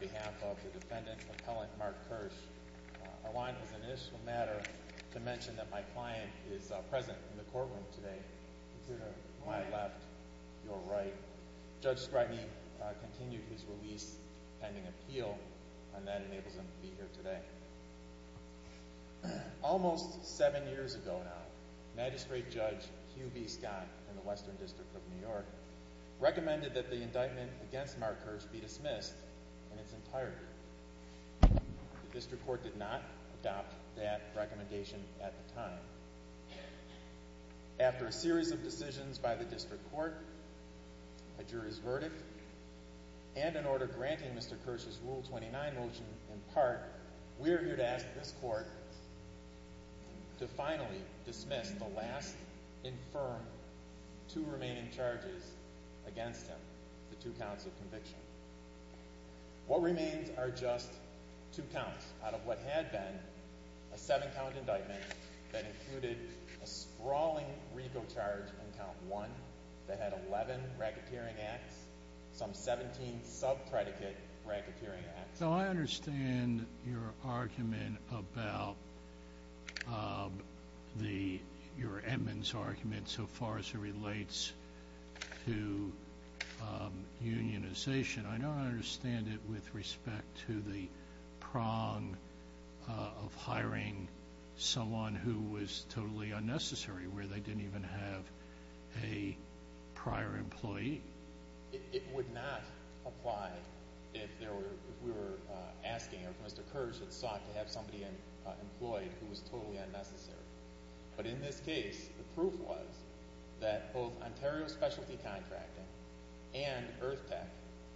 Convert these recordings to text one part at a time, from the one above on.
behalf of the defendant's appellant Mark Kirsch, I want as an initial matter to mention that my client is present in the courtroom today. Consider my left, your right. Judge Scragney continued his release pending appeal and that enables him to be here today. Almost seven years ago now, Magistrate Judge Hugh B. Scott in the Western District of New York recommended that the indictment against Mark Kirsch be dismissed in its entirety. The district court did not adopt that recommendation at the time. After a series of decisions by the district court, a jury's verdict, and an order granting Mr. Kirsch's Rule 29 motion in part, we are here to ask this court to finally dismiss the last and firm two remaining charges against him, the two counts of conviction. What remains are just two counts out of what had been a seven count indictment that included a sprawling RICO charge on count one that had 11 racketeering acts, some 17 sub-predicate racketeering acts. So I understand your argument about your Edmonds argument so far as it relates to unionization. I don't understand it with respect to the prong of hiring someone who was totally unnecessary, where they didn't even have a prior employee. It would not apply if we were asking if Mr. Kirsch had sought to have somebody employed who was totally unnecessary. But in this case, the proof was that both Ontario Specialty Contracting and EarthTech,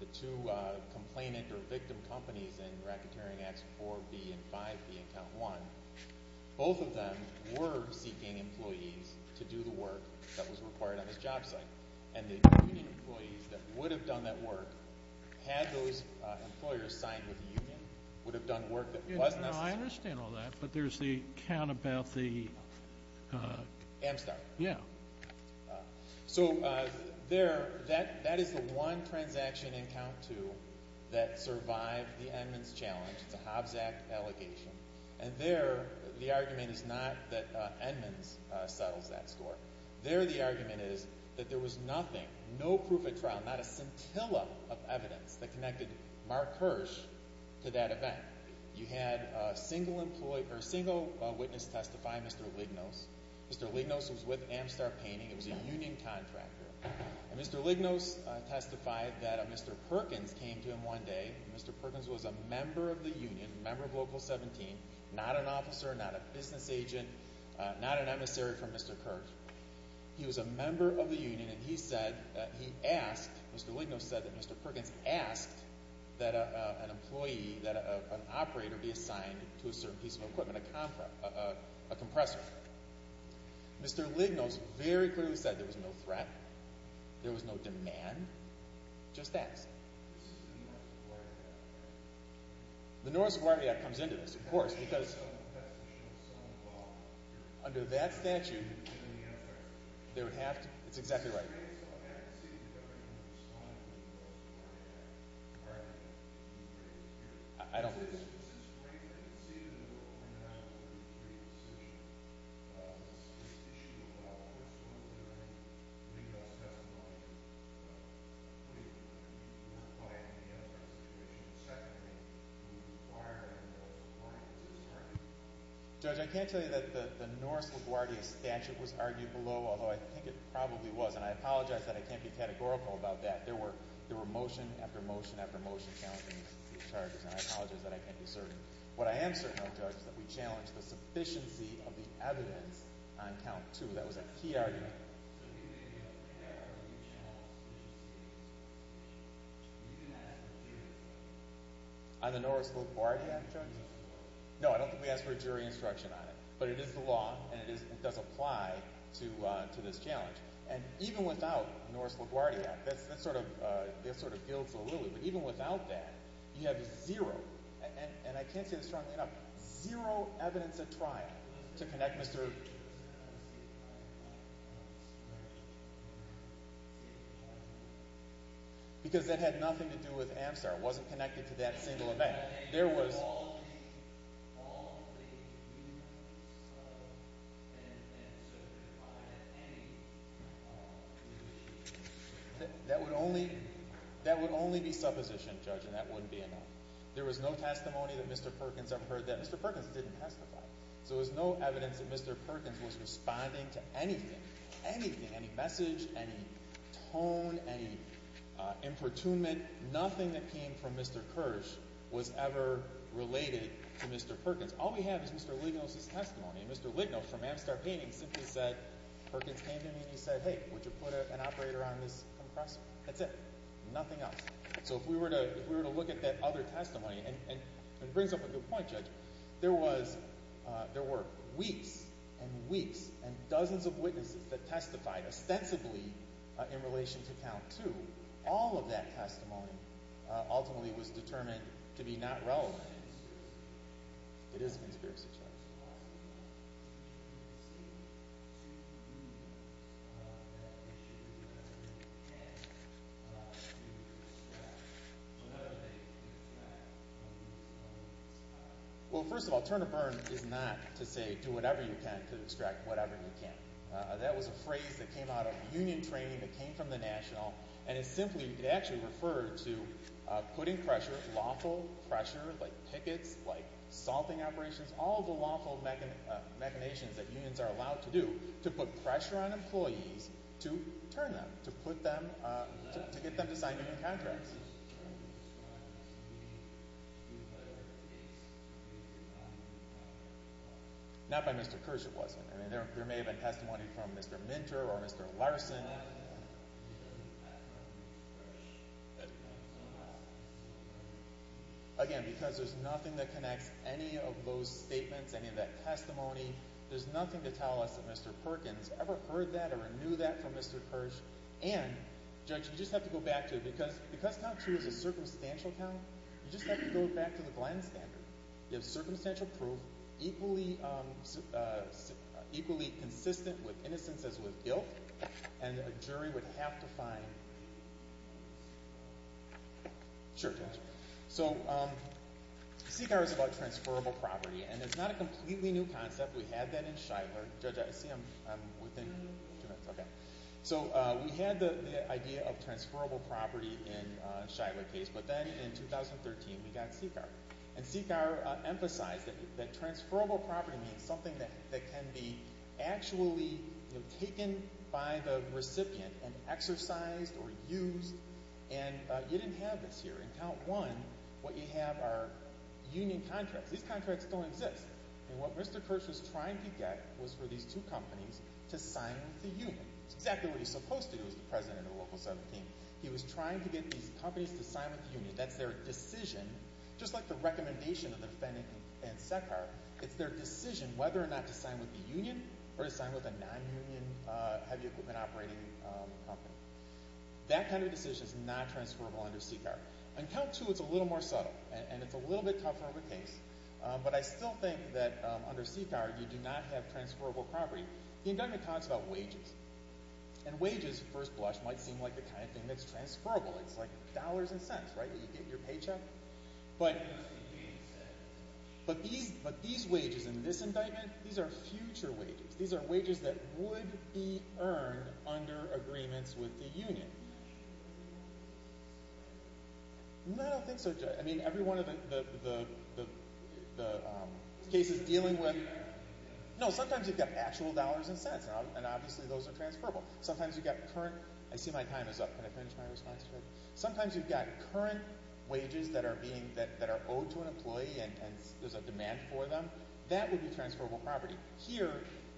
the two complainant or victim companies in racketeering acts 4B and 5B in count one, both of them were seeking employees to do the work that was required on his job site. And the union employees that would have done that work, had those employers signed with the union, would have done work that was necessary. I understand all that, but there's the count about the... Amstar. Yeah. So that is the one transaction in count two that survived the Edmonds challenge. It's a Hobbs Act allegation. And there, the argument is not that Edmonds settles that score. There, the argument is that there was nothing, no proof of trial, not a scintilla of evidence that connected Mark Kirsch to that event. You had a single witness testify, Mr. Lignos. Mr. Lignos was with Amstar Painting. It was a union contractor. And Mr. Lignos testified that Mr. Perkins came to him one day. Mr. Perkins was a member of the union, member of Local 17, not an officer, not a business agent, not an emissary for Mr. Kirsch. He was a member of the union, and he said that he asked, Mr. Lignos said that Mr. Perkins asked that an employee, that an operator be assigned to a certain piece of equipment, a compressor. Mr. Lignos very clearly said there was no threat, there was no demand, just asked. This is the North Suburban Act. The North Suburban Act comes into this, of course, because under that statute, they would have to, it's exactly right. I can't tell you that the North LaGuardia statute was argued below, although I think it probably was, and I apologize that I can't be categorical about that. There were motion after motion after motion challenging these charges, and I apologize that I can't be certain. What I am certain, though, Judge, is that we challenged the sufficiency of the evidence on count two. That was a key argument. So you didn't ask for a jury instruction on the North LaGuardia? No, I don't think we asked for a jury instruction on it. But it is the law, and it does apply to this challenge. And even without the North LaGuardia Act, that sort of gilds the lily. But even without that, you have zero, and I can't say this strongly enough, zero evidence at trial to connect Mr. Because that had nothing to do with Amstar. It wasn't connected to that single event. And so, if I had any, you would be? That would only be supposition, Judge, and that wouldn't be enough. There was no testimony that Mr. Perkins ever heard that Mr. Perkins didn't testify. So there's no evidence that Mr. Perkins was responding to anything, anything, any message, any tone, any importunment. Nothing that came from Mr. Kirsch was ever related to Mr. Perkins. All we have is Mr. Lignos' testimony, and Mr. Lignos from Amstar Painting simply said, Perkins came to me and he said, hey, would you put an operator on this compressor? That's it. Nothing else. So if we were to look at that other testimony, and it brings up a good point, Judge, there were weeks and weeks and dozens of witnesses that testified ostensibly in relation to count two. All of that testimony ultimately was determined to be not relevant. It is a conspiracy, Judge. Well, first of all, Turner Burn is not to say, do whatever you can to extract whatever you can. That was a phrase that came out of union training that came from the National, and it simply, it actually referred to putting pressure, lawful pressure, like pickets, like salting operations, all the lawful machinations that unions are allowed to do to put pressure on employees to turn them, to put them, to get them to sign union contracts. Not by Mr. Kirsch, it wasn't. I mean, there may have been testimony from Mr. Minter or Mr. Larson. Again, because there's nothing that connects any of those statements, any of that testimony, there's nothing to tell us that Mr. Perkins ever heard that or knew that from Mr. Kirsch. And, Judge, you just have to go back to it, because count two is a circumstantial count, you just have to go back to the Glenn standard. You have circumstantial proof, equally consistent with innocence as with guilt, and a jury would have to find. Sure, Judge. So, CCAR is about transferable property, and it's not a completely new concept. We had that in Shidler. Judge, I see I'm within two minutes. Okay. So, we had the idea of transferable property in Shidler case, but then in 2013, we got CCAR. And CCAR emphasized that transferable property means something that can be actually, you know, taken by the recipient and exercised or used. And you didn't have this here. In count one, what you have are union contracts. These contracts don't exist. And what Mr. Kirsch was trying to get was for these two companies to sign with the union. It's exactly what he's supposed to do as the president of Local 17. He was trying to get these companies to sign with the union. That's their decision, just like the recommendation of the defendant in SECAR. It's their decision whether or not to sign with the union, or to sign with a non-union heavy equipment operating company. That kind of decision is not transferable under CCAR. In count two, it's a little more subtle, and it's a little bit tougher of a case, but I still think that under CCAR, you do not have transferable property. The indictment talks about wages, and wages, first blush, might seem like the kind of thing that's transferable. It's like dollars and cents, right, that you get your paycheck. But these wages in this indictment, these are future wages. These are wages that would be earned under agreements with the union. No, I don't think so, Judge. I mean, every one of the cases dealing with— No, sometimes you've got actual dollars and cents, and obviously those are transferable. Sometimes you've got current—I see my time is up. Can I finish my response, Judge? Sometimes you've got current wages that are owed to an employee, and there's a demand for them. That would be transferable property. Here,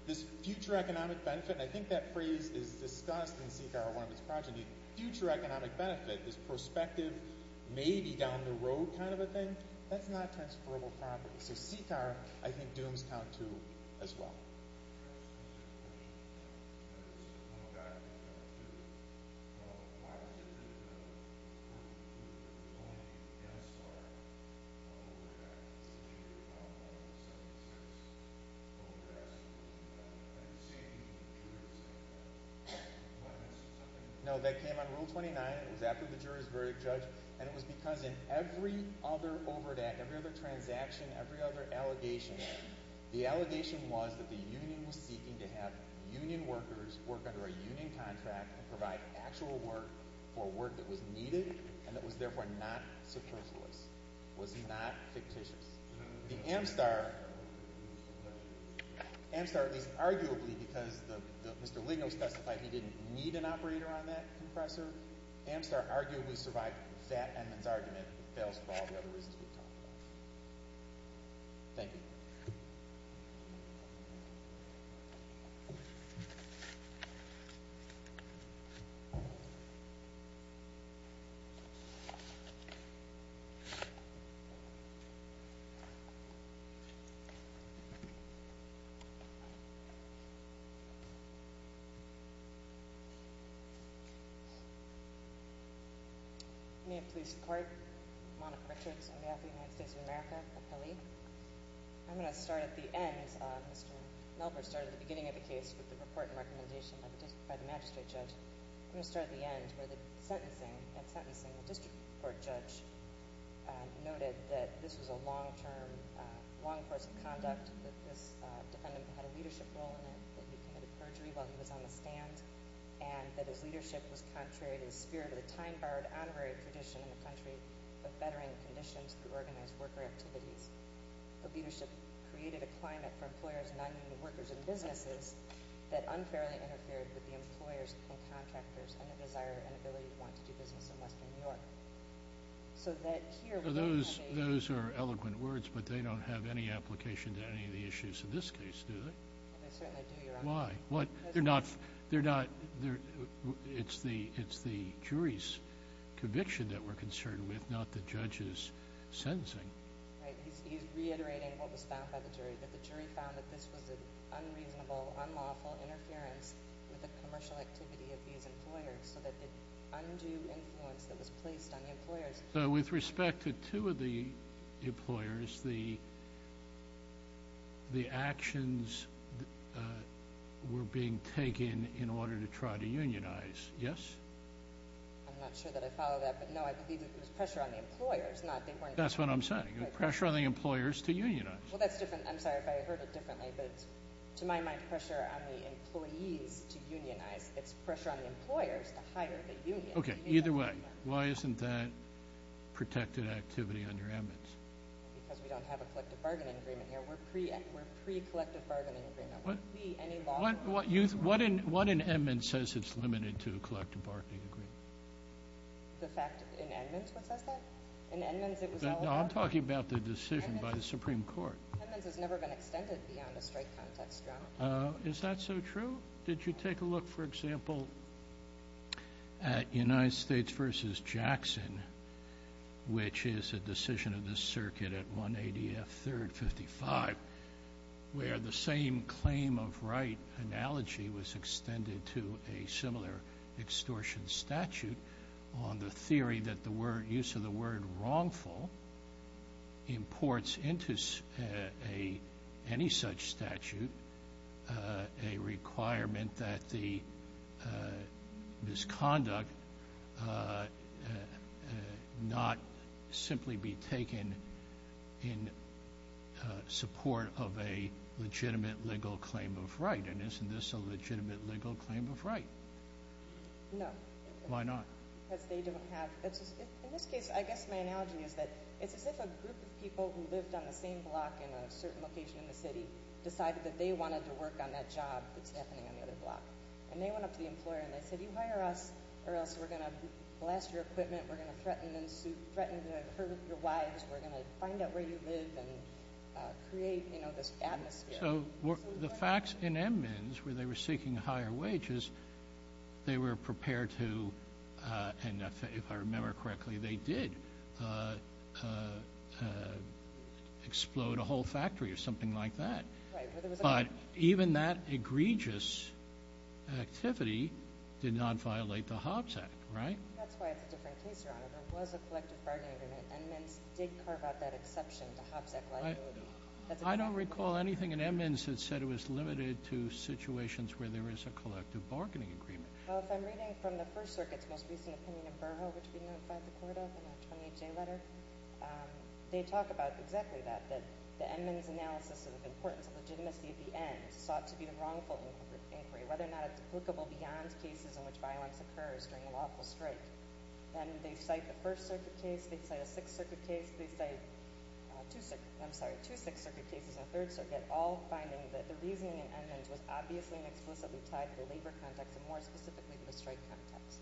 this future economic benefit—and I think that phrase is discussed in CCAR, one of its progeny— future economic benefit is prospective, maybe down the road kind of a thing. That's not transferable property. So CCAR, I think, dooms count too, as well. Why was it written in Article 20 against our OVERDATE procedure, Article 176, OVERDATES, and saving the jurors' employment? No, that came under Rule 29. It was after the jurors' verdict, Judge. And it was because in every other OVERDATE, every other transaction, every other allegation, the allegation was that the union was seeking to have union workers work under a union contract and provide actual work for work that was needed and that was therefore not superfluous, was not fictitious. The Amstar—Amstar, at least arguably, because Mr. Ligo specified he didn't need an operator on that compressor, Amstar arguably survived Fat Edmund's argument, but fails for all the other reasons we've talked about. Thank you. May it please the Court, I'm Monica Richards, on behalf of the United States of America, appellee. I'm going to start at the end. Mr. Melber started at the beginning of the case with the report and recommendation by the magistrate judge. I'm going to start at the end, where the sentencing—at sentencing, the district court judge noted that this was a long-term, long course of conduct, that this defendant had a leadership role in it, that he committed perjury while he was on the stand, and that his leadership was contrary to the spirit of the time-borrowed honorary tradition in the country of bettering conditions through organized worker activities. The leadership created a climate for employers and union workers in businesses that unfairly interfered with the employers and contractors and the desire and ability to want to do business in western New York. So that here— Those are eloquent words, but they don't have any application to any of the issues in this case, do they? They certainly do, Your Honor. Why? They're not—it's the jury's conviction that we're concerned with, not the judge's sentencing. Right. He's reiterating what was found by the jury, that the jury found that this was an unreasonable, unlawful interference with the commercial activity of these employers, so that the undue influence that was placed on the employers— So with respect to two of the employers, the actions were being taken in order to try to unionize, yes? I'm not sure that I follow that, but no, I believe it was pressure on the employers, not— That's what I'm saying. Pressure on the employers to unionize. Well, that's different. I'm sorry if I heard it differently, but it's, to my mind, pressure on the employees to unionize. It's pressure on the employers to hire the union. Okay, either way, why isn't that protected activity under Edmonds? Because we don't have a collective bargaining agreement here. We're pre-collective bargaining agreement. Would we, any law— What in Edmonds says it's limited to a collective bargaining agreement? The fact in Edmonds what says that? In Edmonds, it was all— I'm talking about the decision by the Supreme Court. Edmonds has never been extended beyond a strike context, John. Is that so true? Did you take a look, for example, at United States v. Jackson, which is a decision of the circuit at 180 F. 3rd 55, where the same claim of right analogy was extended to a similar extortion statute on the theory that the use of the word wrongful imports into any such statute a requirement that the misconduct not simply be taken in support of a legitimate legal claim of right? And isn't this a legitimate legal claim of right? No. Why not? Because they don't have— In this case, I guess my analogy is that it's as if a group of people who lived on the same block in a certain location in the city decided that they wanted to work on that job that's happening on the other block. And they went up to the employer and they said, you hire us or else we're going to blast your equipment. We're going to threaten and sue—threaten to hurt your wives. We're going to find out where you live and create, you know, this atmosphere. The facts in Edmonds, where they were seeking higher wages, they were prepared to—and if I remember correctly, they did— explode a whole factory or something like that. But even that egregious activity did not violate the Hobbs Act, right? That's why it's a different case, Your Honor. There was a collective bargaining agreement. Edmonds did carve out that exception to Hobbs Act liability. I don't recall anything in Edmonds that said it was limited to situations where there is a collective bargaining agreement. Well, if I'm reading from the First Circuit's most recent opinion of Burho, which we notified the court of in our 28-J letter, they talk about exactly that, that the Edmonds analysis of the importance of legitimacy at the end sought to be the wrongful inquiry, whether or not it's applicable beyond cases in which violence occurs during a lawful strike. And they cite the First Circuit case, they cite a Sixth Circuit case, they cite two Sixth Circuit cases in the Third Circuit, all finding that the reasoning in Edmonds was obviously and explicitly tied to the labor context and, more specifically, the strike context.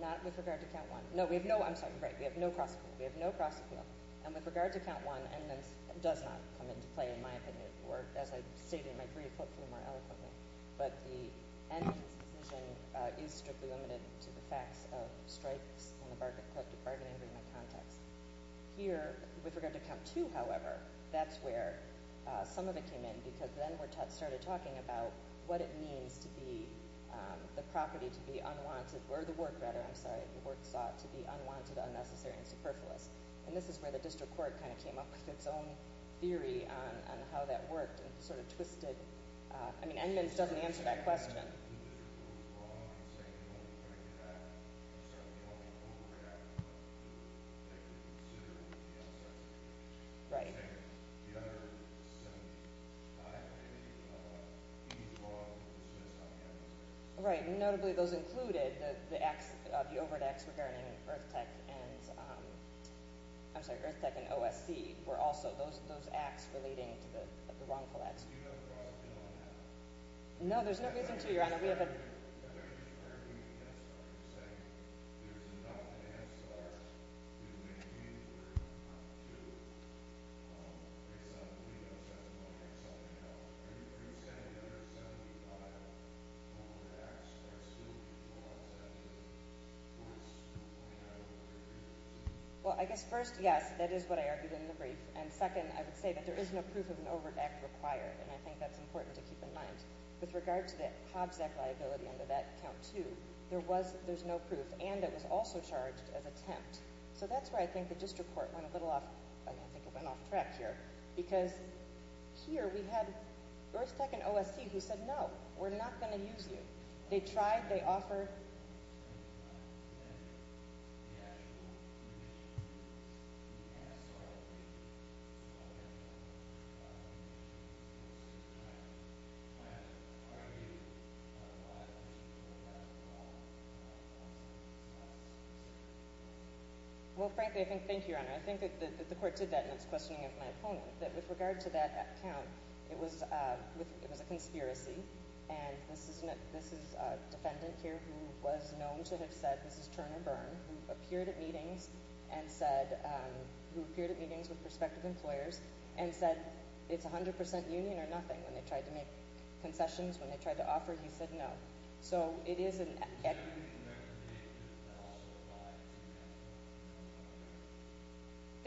Not with regard to Count 1. No, we have no, I'm sorry, right, we have no cross-appeal. We have no cross-appeal. And with regard to Count 1, Edmonds does not come into play, in my opinion, or as I stated in my brief, hopefully more eloquently. But the end of this decision is strictly limited to the facts of strikes and the collective bargaining agreement context. Here, with regard to Count 2, however, that's where some of it came in because then we started talking about what it means to be, the property to be unwanted, or the work, rather, I'm sorry, the work sought to be unwanted, unnecessary, and superfluous. And this is where the district court kind of came up with its own theory on how that worked and sort of twisted, I mean, Edmonds doesn't answer that question. Right, and notably those included, the acts, the overt acts regarding EarthTech and, I'm sorry, EarthTech and OSC were also those acts relating to the wrongful acts. Do you have a cross-appeal on that? No, there's no reason to, Your Honor. We have a- I thought you were referring to the Head Start. You're saying there's enough of the Head Start, there's many cases where Count 2, based on the legal testimony, or something else, where you said there are 75 overt acts that are still being processed, or is that an over-agreement? Well, I guess first, yes, that is what I argued in the brief. And second, I would say that there is no proof of an overt act required, and I think that's important to keep in mind. With regard to the Hobbs Act liability under that Count 2, there's no proof, and it was also charged as attempt. So that's where I think the district court went a little off, I think it went off track here, because here we had EarthTech and OSC who said, no, we're not going to use you. They tried, they offered- I'm just trying to understand the actual provisions of the Head Start, I mean, it's not an overt act, it's a liability, and I'm just trying to understand, when are we going to apply a liability under that law in light of what's been discussed? Well, frankly, I think, thank you, Your Honor, I think that the court did that in its questioning of my opponent, that with regard to that count, it was a conspiracy, and this is defended, was known to have said, this is Turner Byrne, who appeared at meetings with prospective employers and said, it's 100% union or nothing, when they tried to make concessions, when they tried to offer, he said no. So it is an- Was there anything that was created that also applied to that?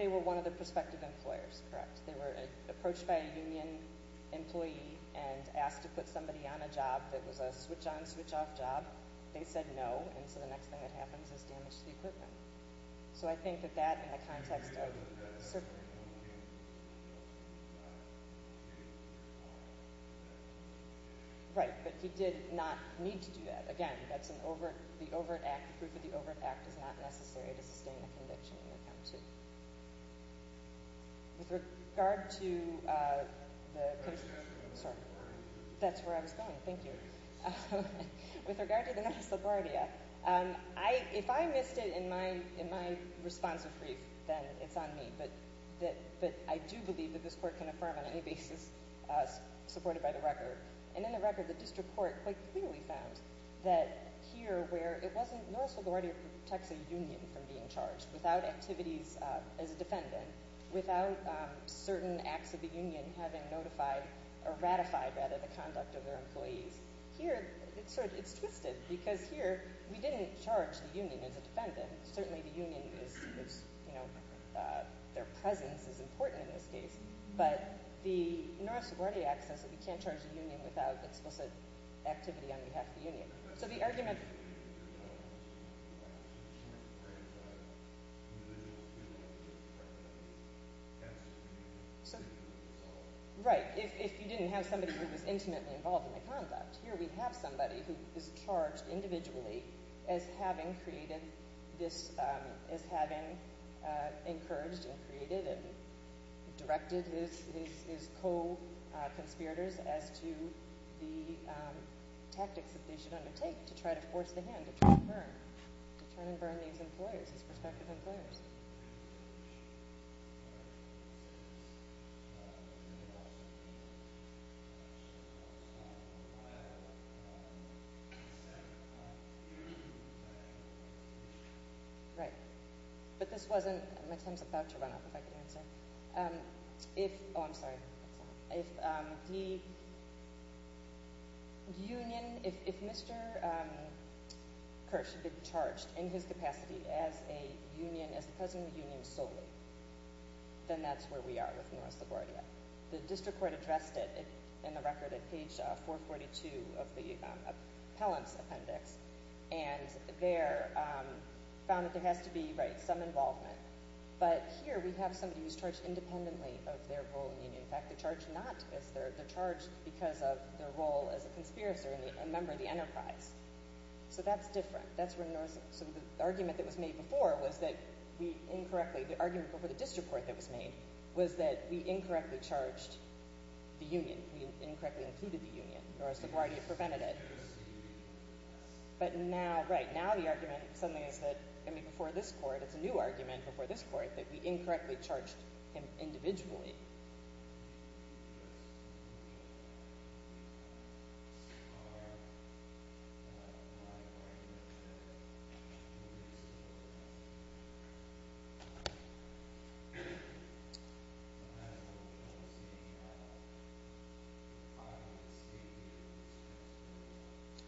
They were one of the prospective employers, correct. They were approached by a union employee and asked to put somebody on a job that was a switch-on, switch-off job. They said no, and so the next thing that happens is damage to the equipment. So I think that that, in the context of- Right, but he did not need to do that. Again, that's an overt, the overt act, proof of the overt act is not necessary to sustain a conviction in the count, to- With regard to- That's where I was going, thank you. With regard to the Norris LaGuardia, if I missed it in my responsive brief, then it's on me, but I do believe that this court can affirm on any basis supported by the record, and in the record, the district court quite clearly found that here where it wasn't, Norris LaGuardia protects a union from being charged without activities as a defendant, without certain acts of the union having notified, or ratified, rather, the conduct of their employees. Here, it's sort of, it's twisted, because here we didn't charge the union as a defendant. Certainly the union is, you know, their presence is important in this case, but the Norris LaGuardia act says that we can't charge the union without explicit activity on behalf of the union. So the argument- Right, if you didn't have somebody who was intimately involved in the conduct, here we have somebody who is charged individually as having created this, as having encouraged and created and directed his co-conspirators as to the tactics that they should undertake to try to force the hand, to try and burn, to try and burn these employers, these prospective employers. Right, but this wasn't, my time's about to run out if I can answer, if, oh I'm sorry, if the union, as the president of the union solely, then that's where we are with Norris LaGuardia. The district court addressed it in the record at page 442 of the appellant's appendix, and there found that there has to be, right, some involvement, but here we have somebody who's charged independently of their role in the union. In fact, they're charged not as, they're charged because of their role as a conspirator and a member of the enterprise. So that's different, that's where Norris, so the argument that was made before was that we incorrectly, the argument before the district court that was made was that we incorrectly charged the union, we incorrectly included the union, Norris LaGuardia prevented it. But now, right, now the argument suddenly is that, I mean before this court, it's a new argument before this court, that we incorrectly charged him individually.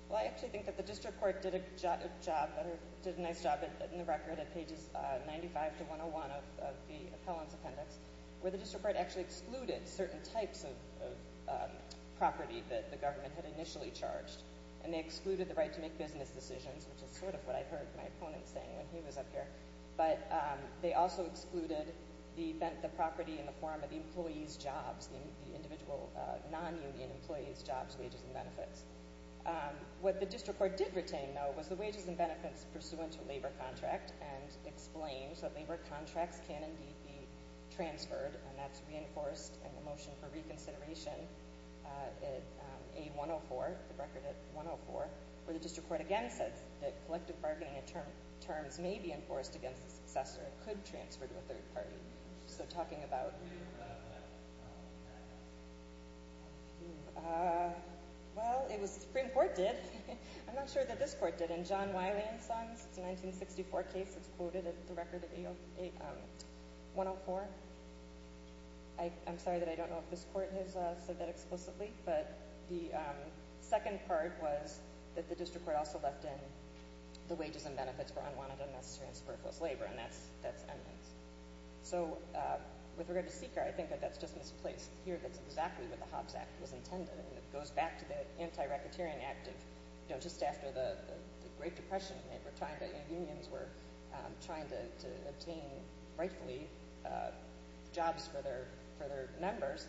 Well, I actually think that the district court did a job, did a nice job in the record at pages 95 to 101 of the appellant's appendix, where the district court actually excluded certain types of property that the government had initially charged, and they excluded the right to make decisions, which is sort of what I heard my opponent saying when he was up here, but they also excluded the property in the form of the employee's jobs, the individual non-union employee's jobs, wages, and benefits. What the district court did retain, though, was the wages and benefits pursuant to labor contract, and explains that labor contracts can indeed be transferred, and that's reinforced in the motion for reconsideration at A104, the record at 104, where the district court again says that collective bargaining terms may be enforced against the successor, it could transfer to a third party. So talking about... Well, it was, the Supreme Court did. I'm not sure that this court did. In John Wiley and Sons, it's a 1964 case, it's quoted at the record at 104. I'm sorry that I don't know if this court has said that explicitly, but the second part was that the district court also left in the wages and benefits for unwanted, unnecessary, and superfluous labor, and that's eminence. So with regard to Seeker, I think that that's just misplaced here. That's exactly what the Hobbs Act was intended, and it goes back to the Anti-Racketeering Act of, you know, just after the Great Depression, and they were trying to, you know, unions were trying to obtain rightfully paid jobs for their members,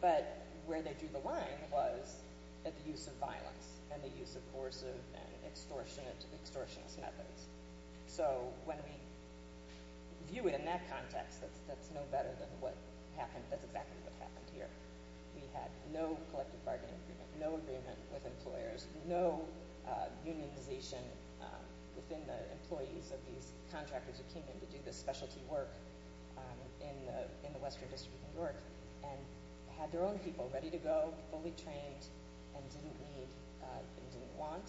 but where they drew the line was at the use of violence, and the use of coercive and extortionist methods. So when we view it in that context, that's no better than what happened, that's exactly what happened here. We had no collective bargaining agreement, no agreement with employers, no unionization within the employees of these in the Western District of New York, and had their own people ready to go, fully trained, and didn't need and didn't want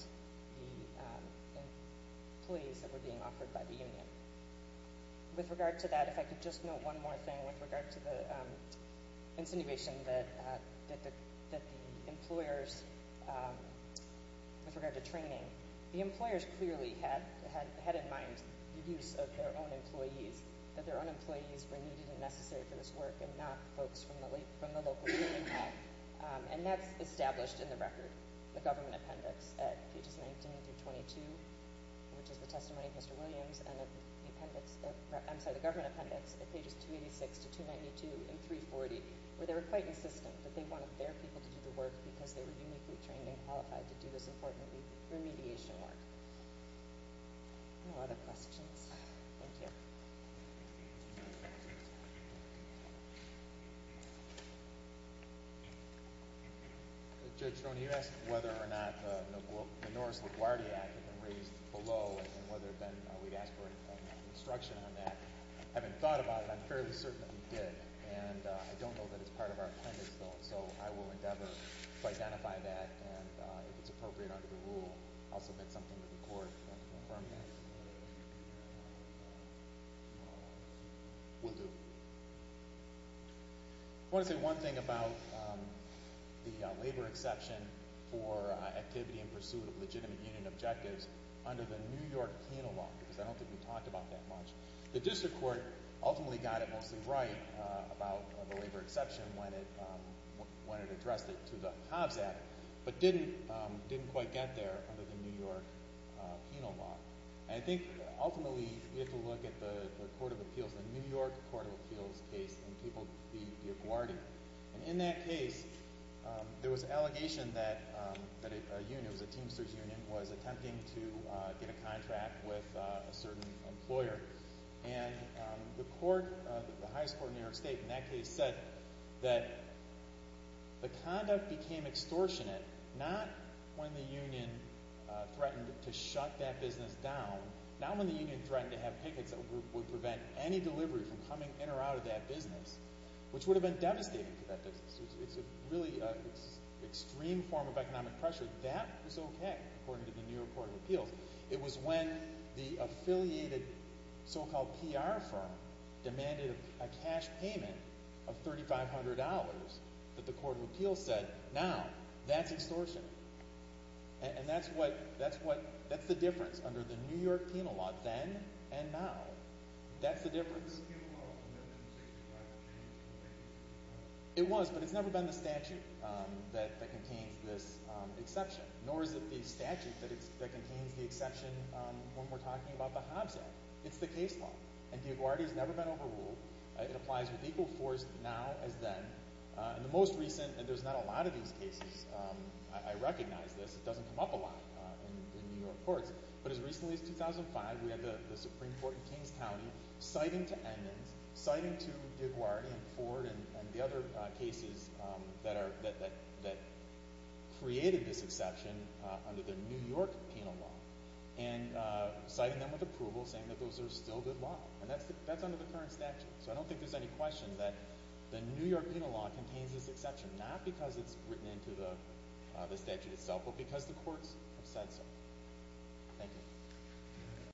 the employees that were being offered by the union. With regard to that, if I could just note one more thing with regard to the insinuation that the employers, with regard to training, the employers clearly had in mind the use of their own employees, that their own employees were needed and necessary for this work and not folks from the local union hall, and that's established in the record, the government appendix at pages 19 through 22, which is the testimony of Mr. Williams, and the appendix, I'm sorry, the government appendix at pages 286 to 292 and 340, where they were quite insistent that they wanted their people to do the work because they were uniquely trained and qualified to do this important remediation work. No other questions? Thank you. Judge, when you asked whether or not the Norris LaGuardia Act had been raised below and whether then we'd ask for instruction on that, having thought about it, I'm fairly certain that we did, and I don't know that it's part of our appendix, though, so I will endeavor to identify that, and if it's appropriate under the rule, I'll submit something to the court to confirm that. Will do. I want to say one thing about the labor exception for activity in pursuit of legitimate union objectives under the New York penal law, because I don't think we talked about that much. The district court ultimately got it mostly right about the labor exception when it addressed it to the Hobbs Act, but didn't quite get there under the New York penal law, and I think ultimately we have to look at the court of appeals, the New York court of appeals case and people, the LaGuardia, and in that case, there was an allegation that a union, it was a Teamsters union, was attempting to get a contract with a certain employer, and the court, the highest court in New York State, in that case said that the conduct became extortionate not when the union threatened to shut that business down, not when the union threatened to have pickets that would prevent any delivery from coming in or out of that business, which would have been devastating for that business. It's a really extreme form of economic pressure. That was okay, according to the court of appeals. It was when the affiliated so-called PR firm demanded a cash payment of $3,500 that the court of appeals said, now, that's extortion, and that's what, that's what, that's the difference under the New York penal law then and now. That's the difference. It was, but it's never been the statute that contains this exception, nor is it the statute that contains the exception when we're talking about the Hobbs Act. It's the case law, and D'Aguardia's never been overruled. It applies with equal force now as then. In the most recent, and there's not a lot of these cases, I recognize this, it doesn't come up a lot in New York courts, but as recently as 2005, we had the Supreme Court in Kings County citing to Edmonds, citing to D'Aguardia and Ford and the other cases that are, that created this exception under the New York penal law, and citing them with approval saying that those are still good law, and that's, that's under the current statute. So I don't think there's any question that the New York penal law contains this exception, not because it's written into the statute itself, but because the courts have said so. Thank you.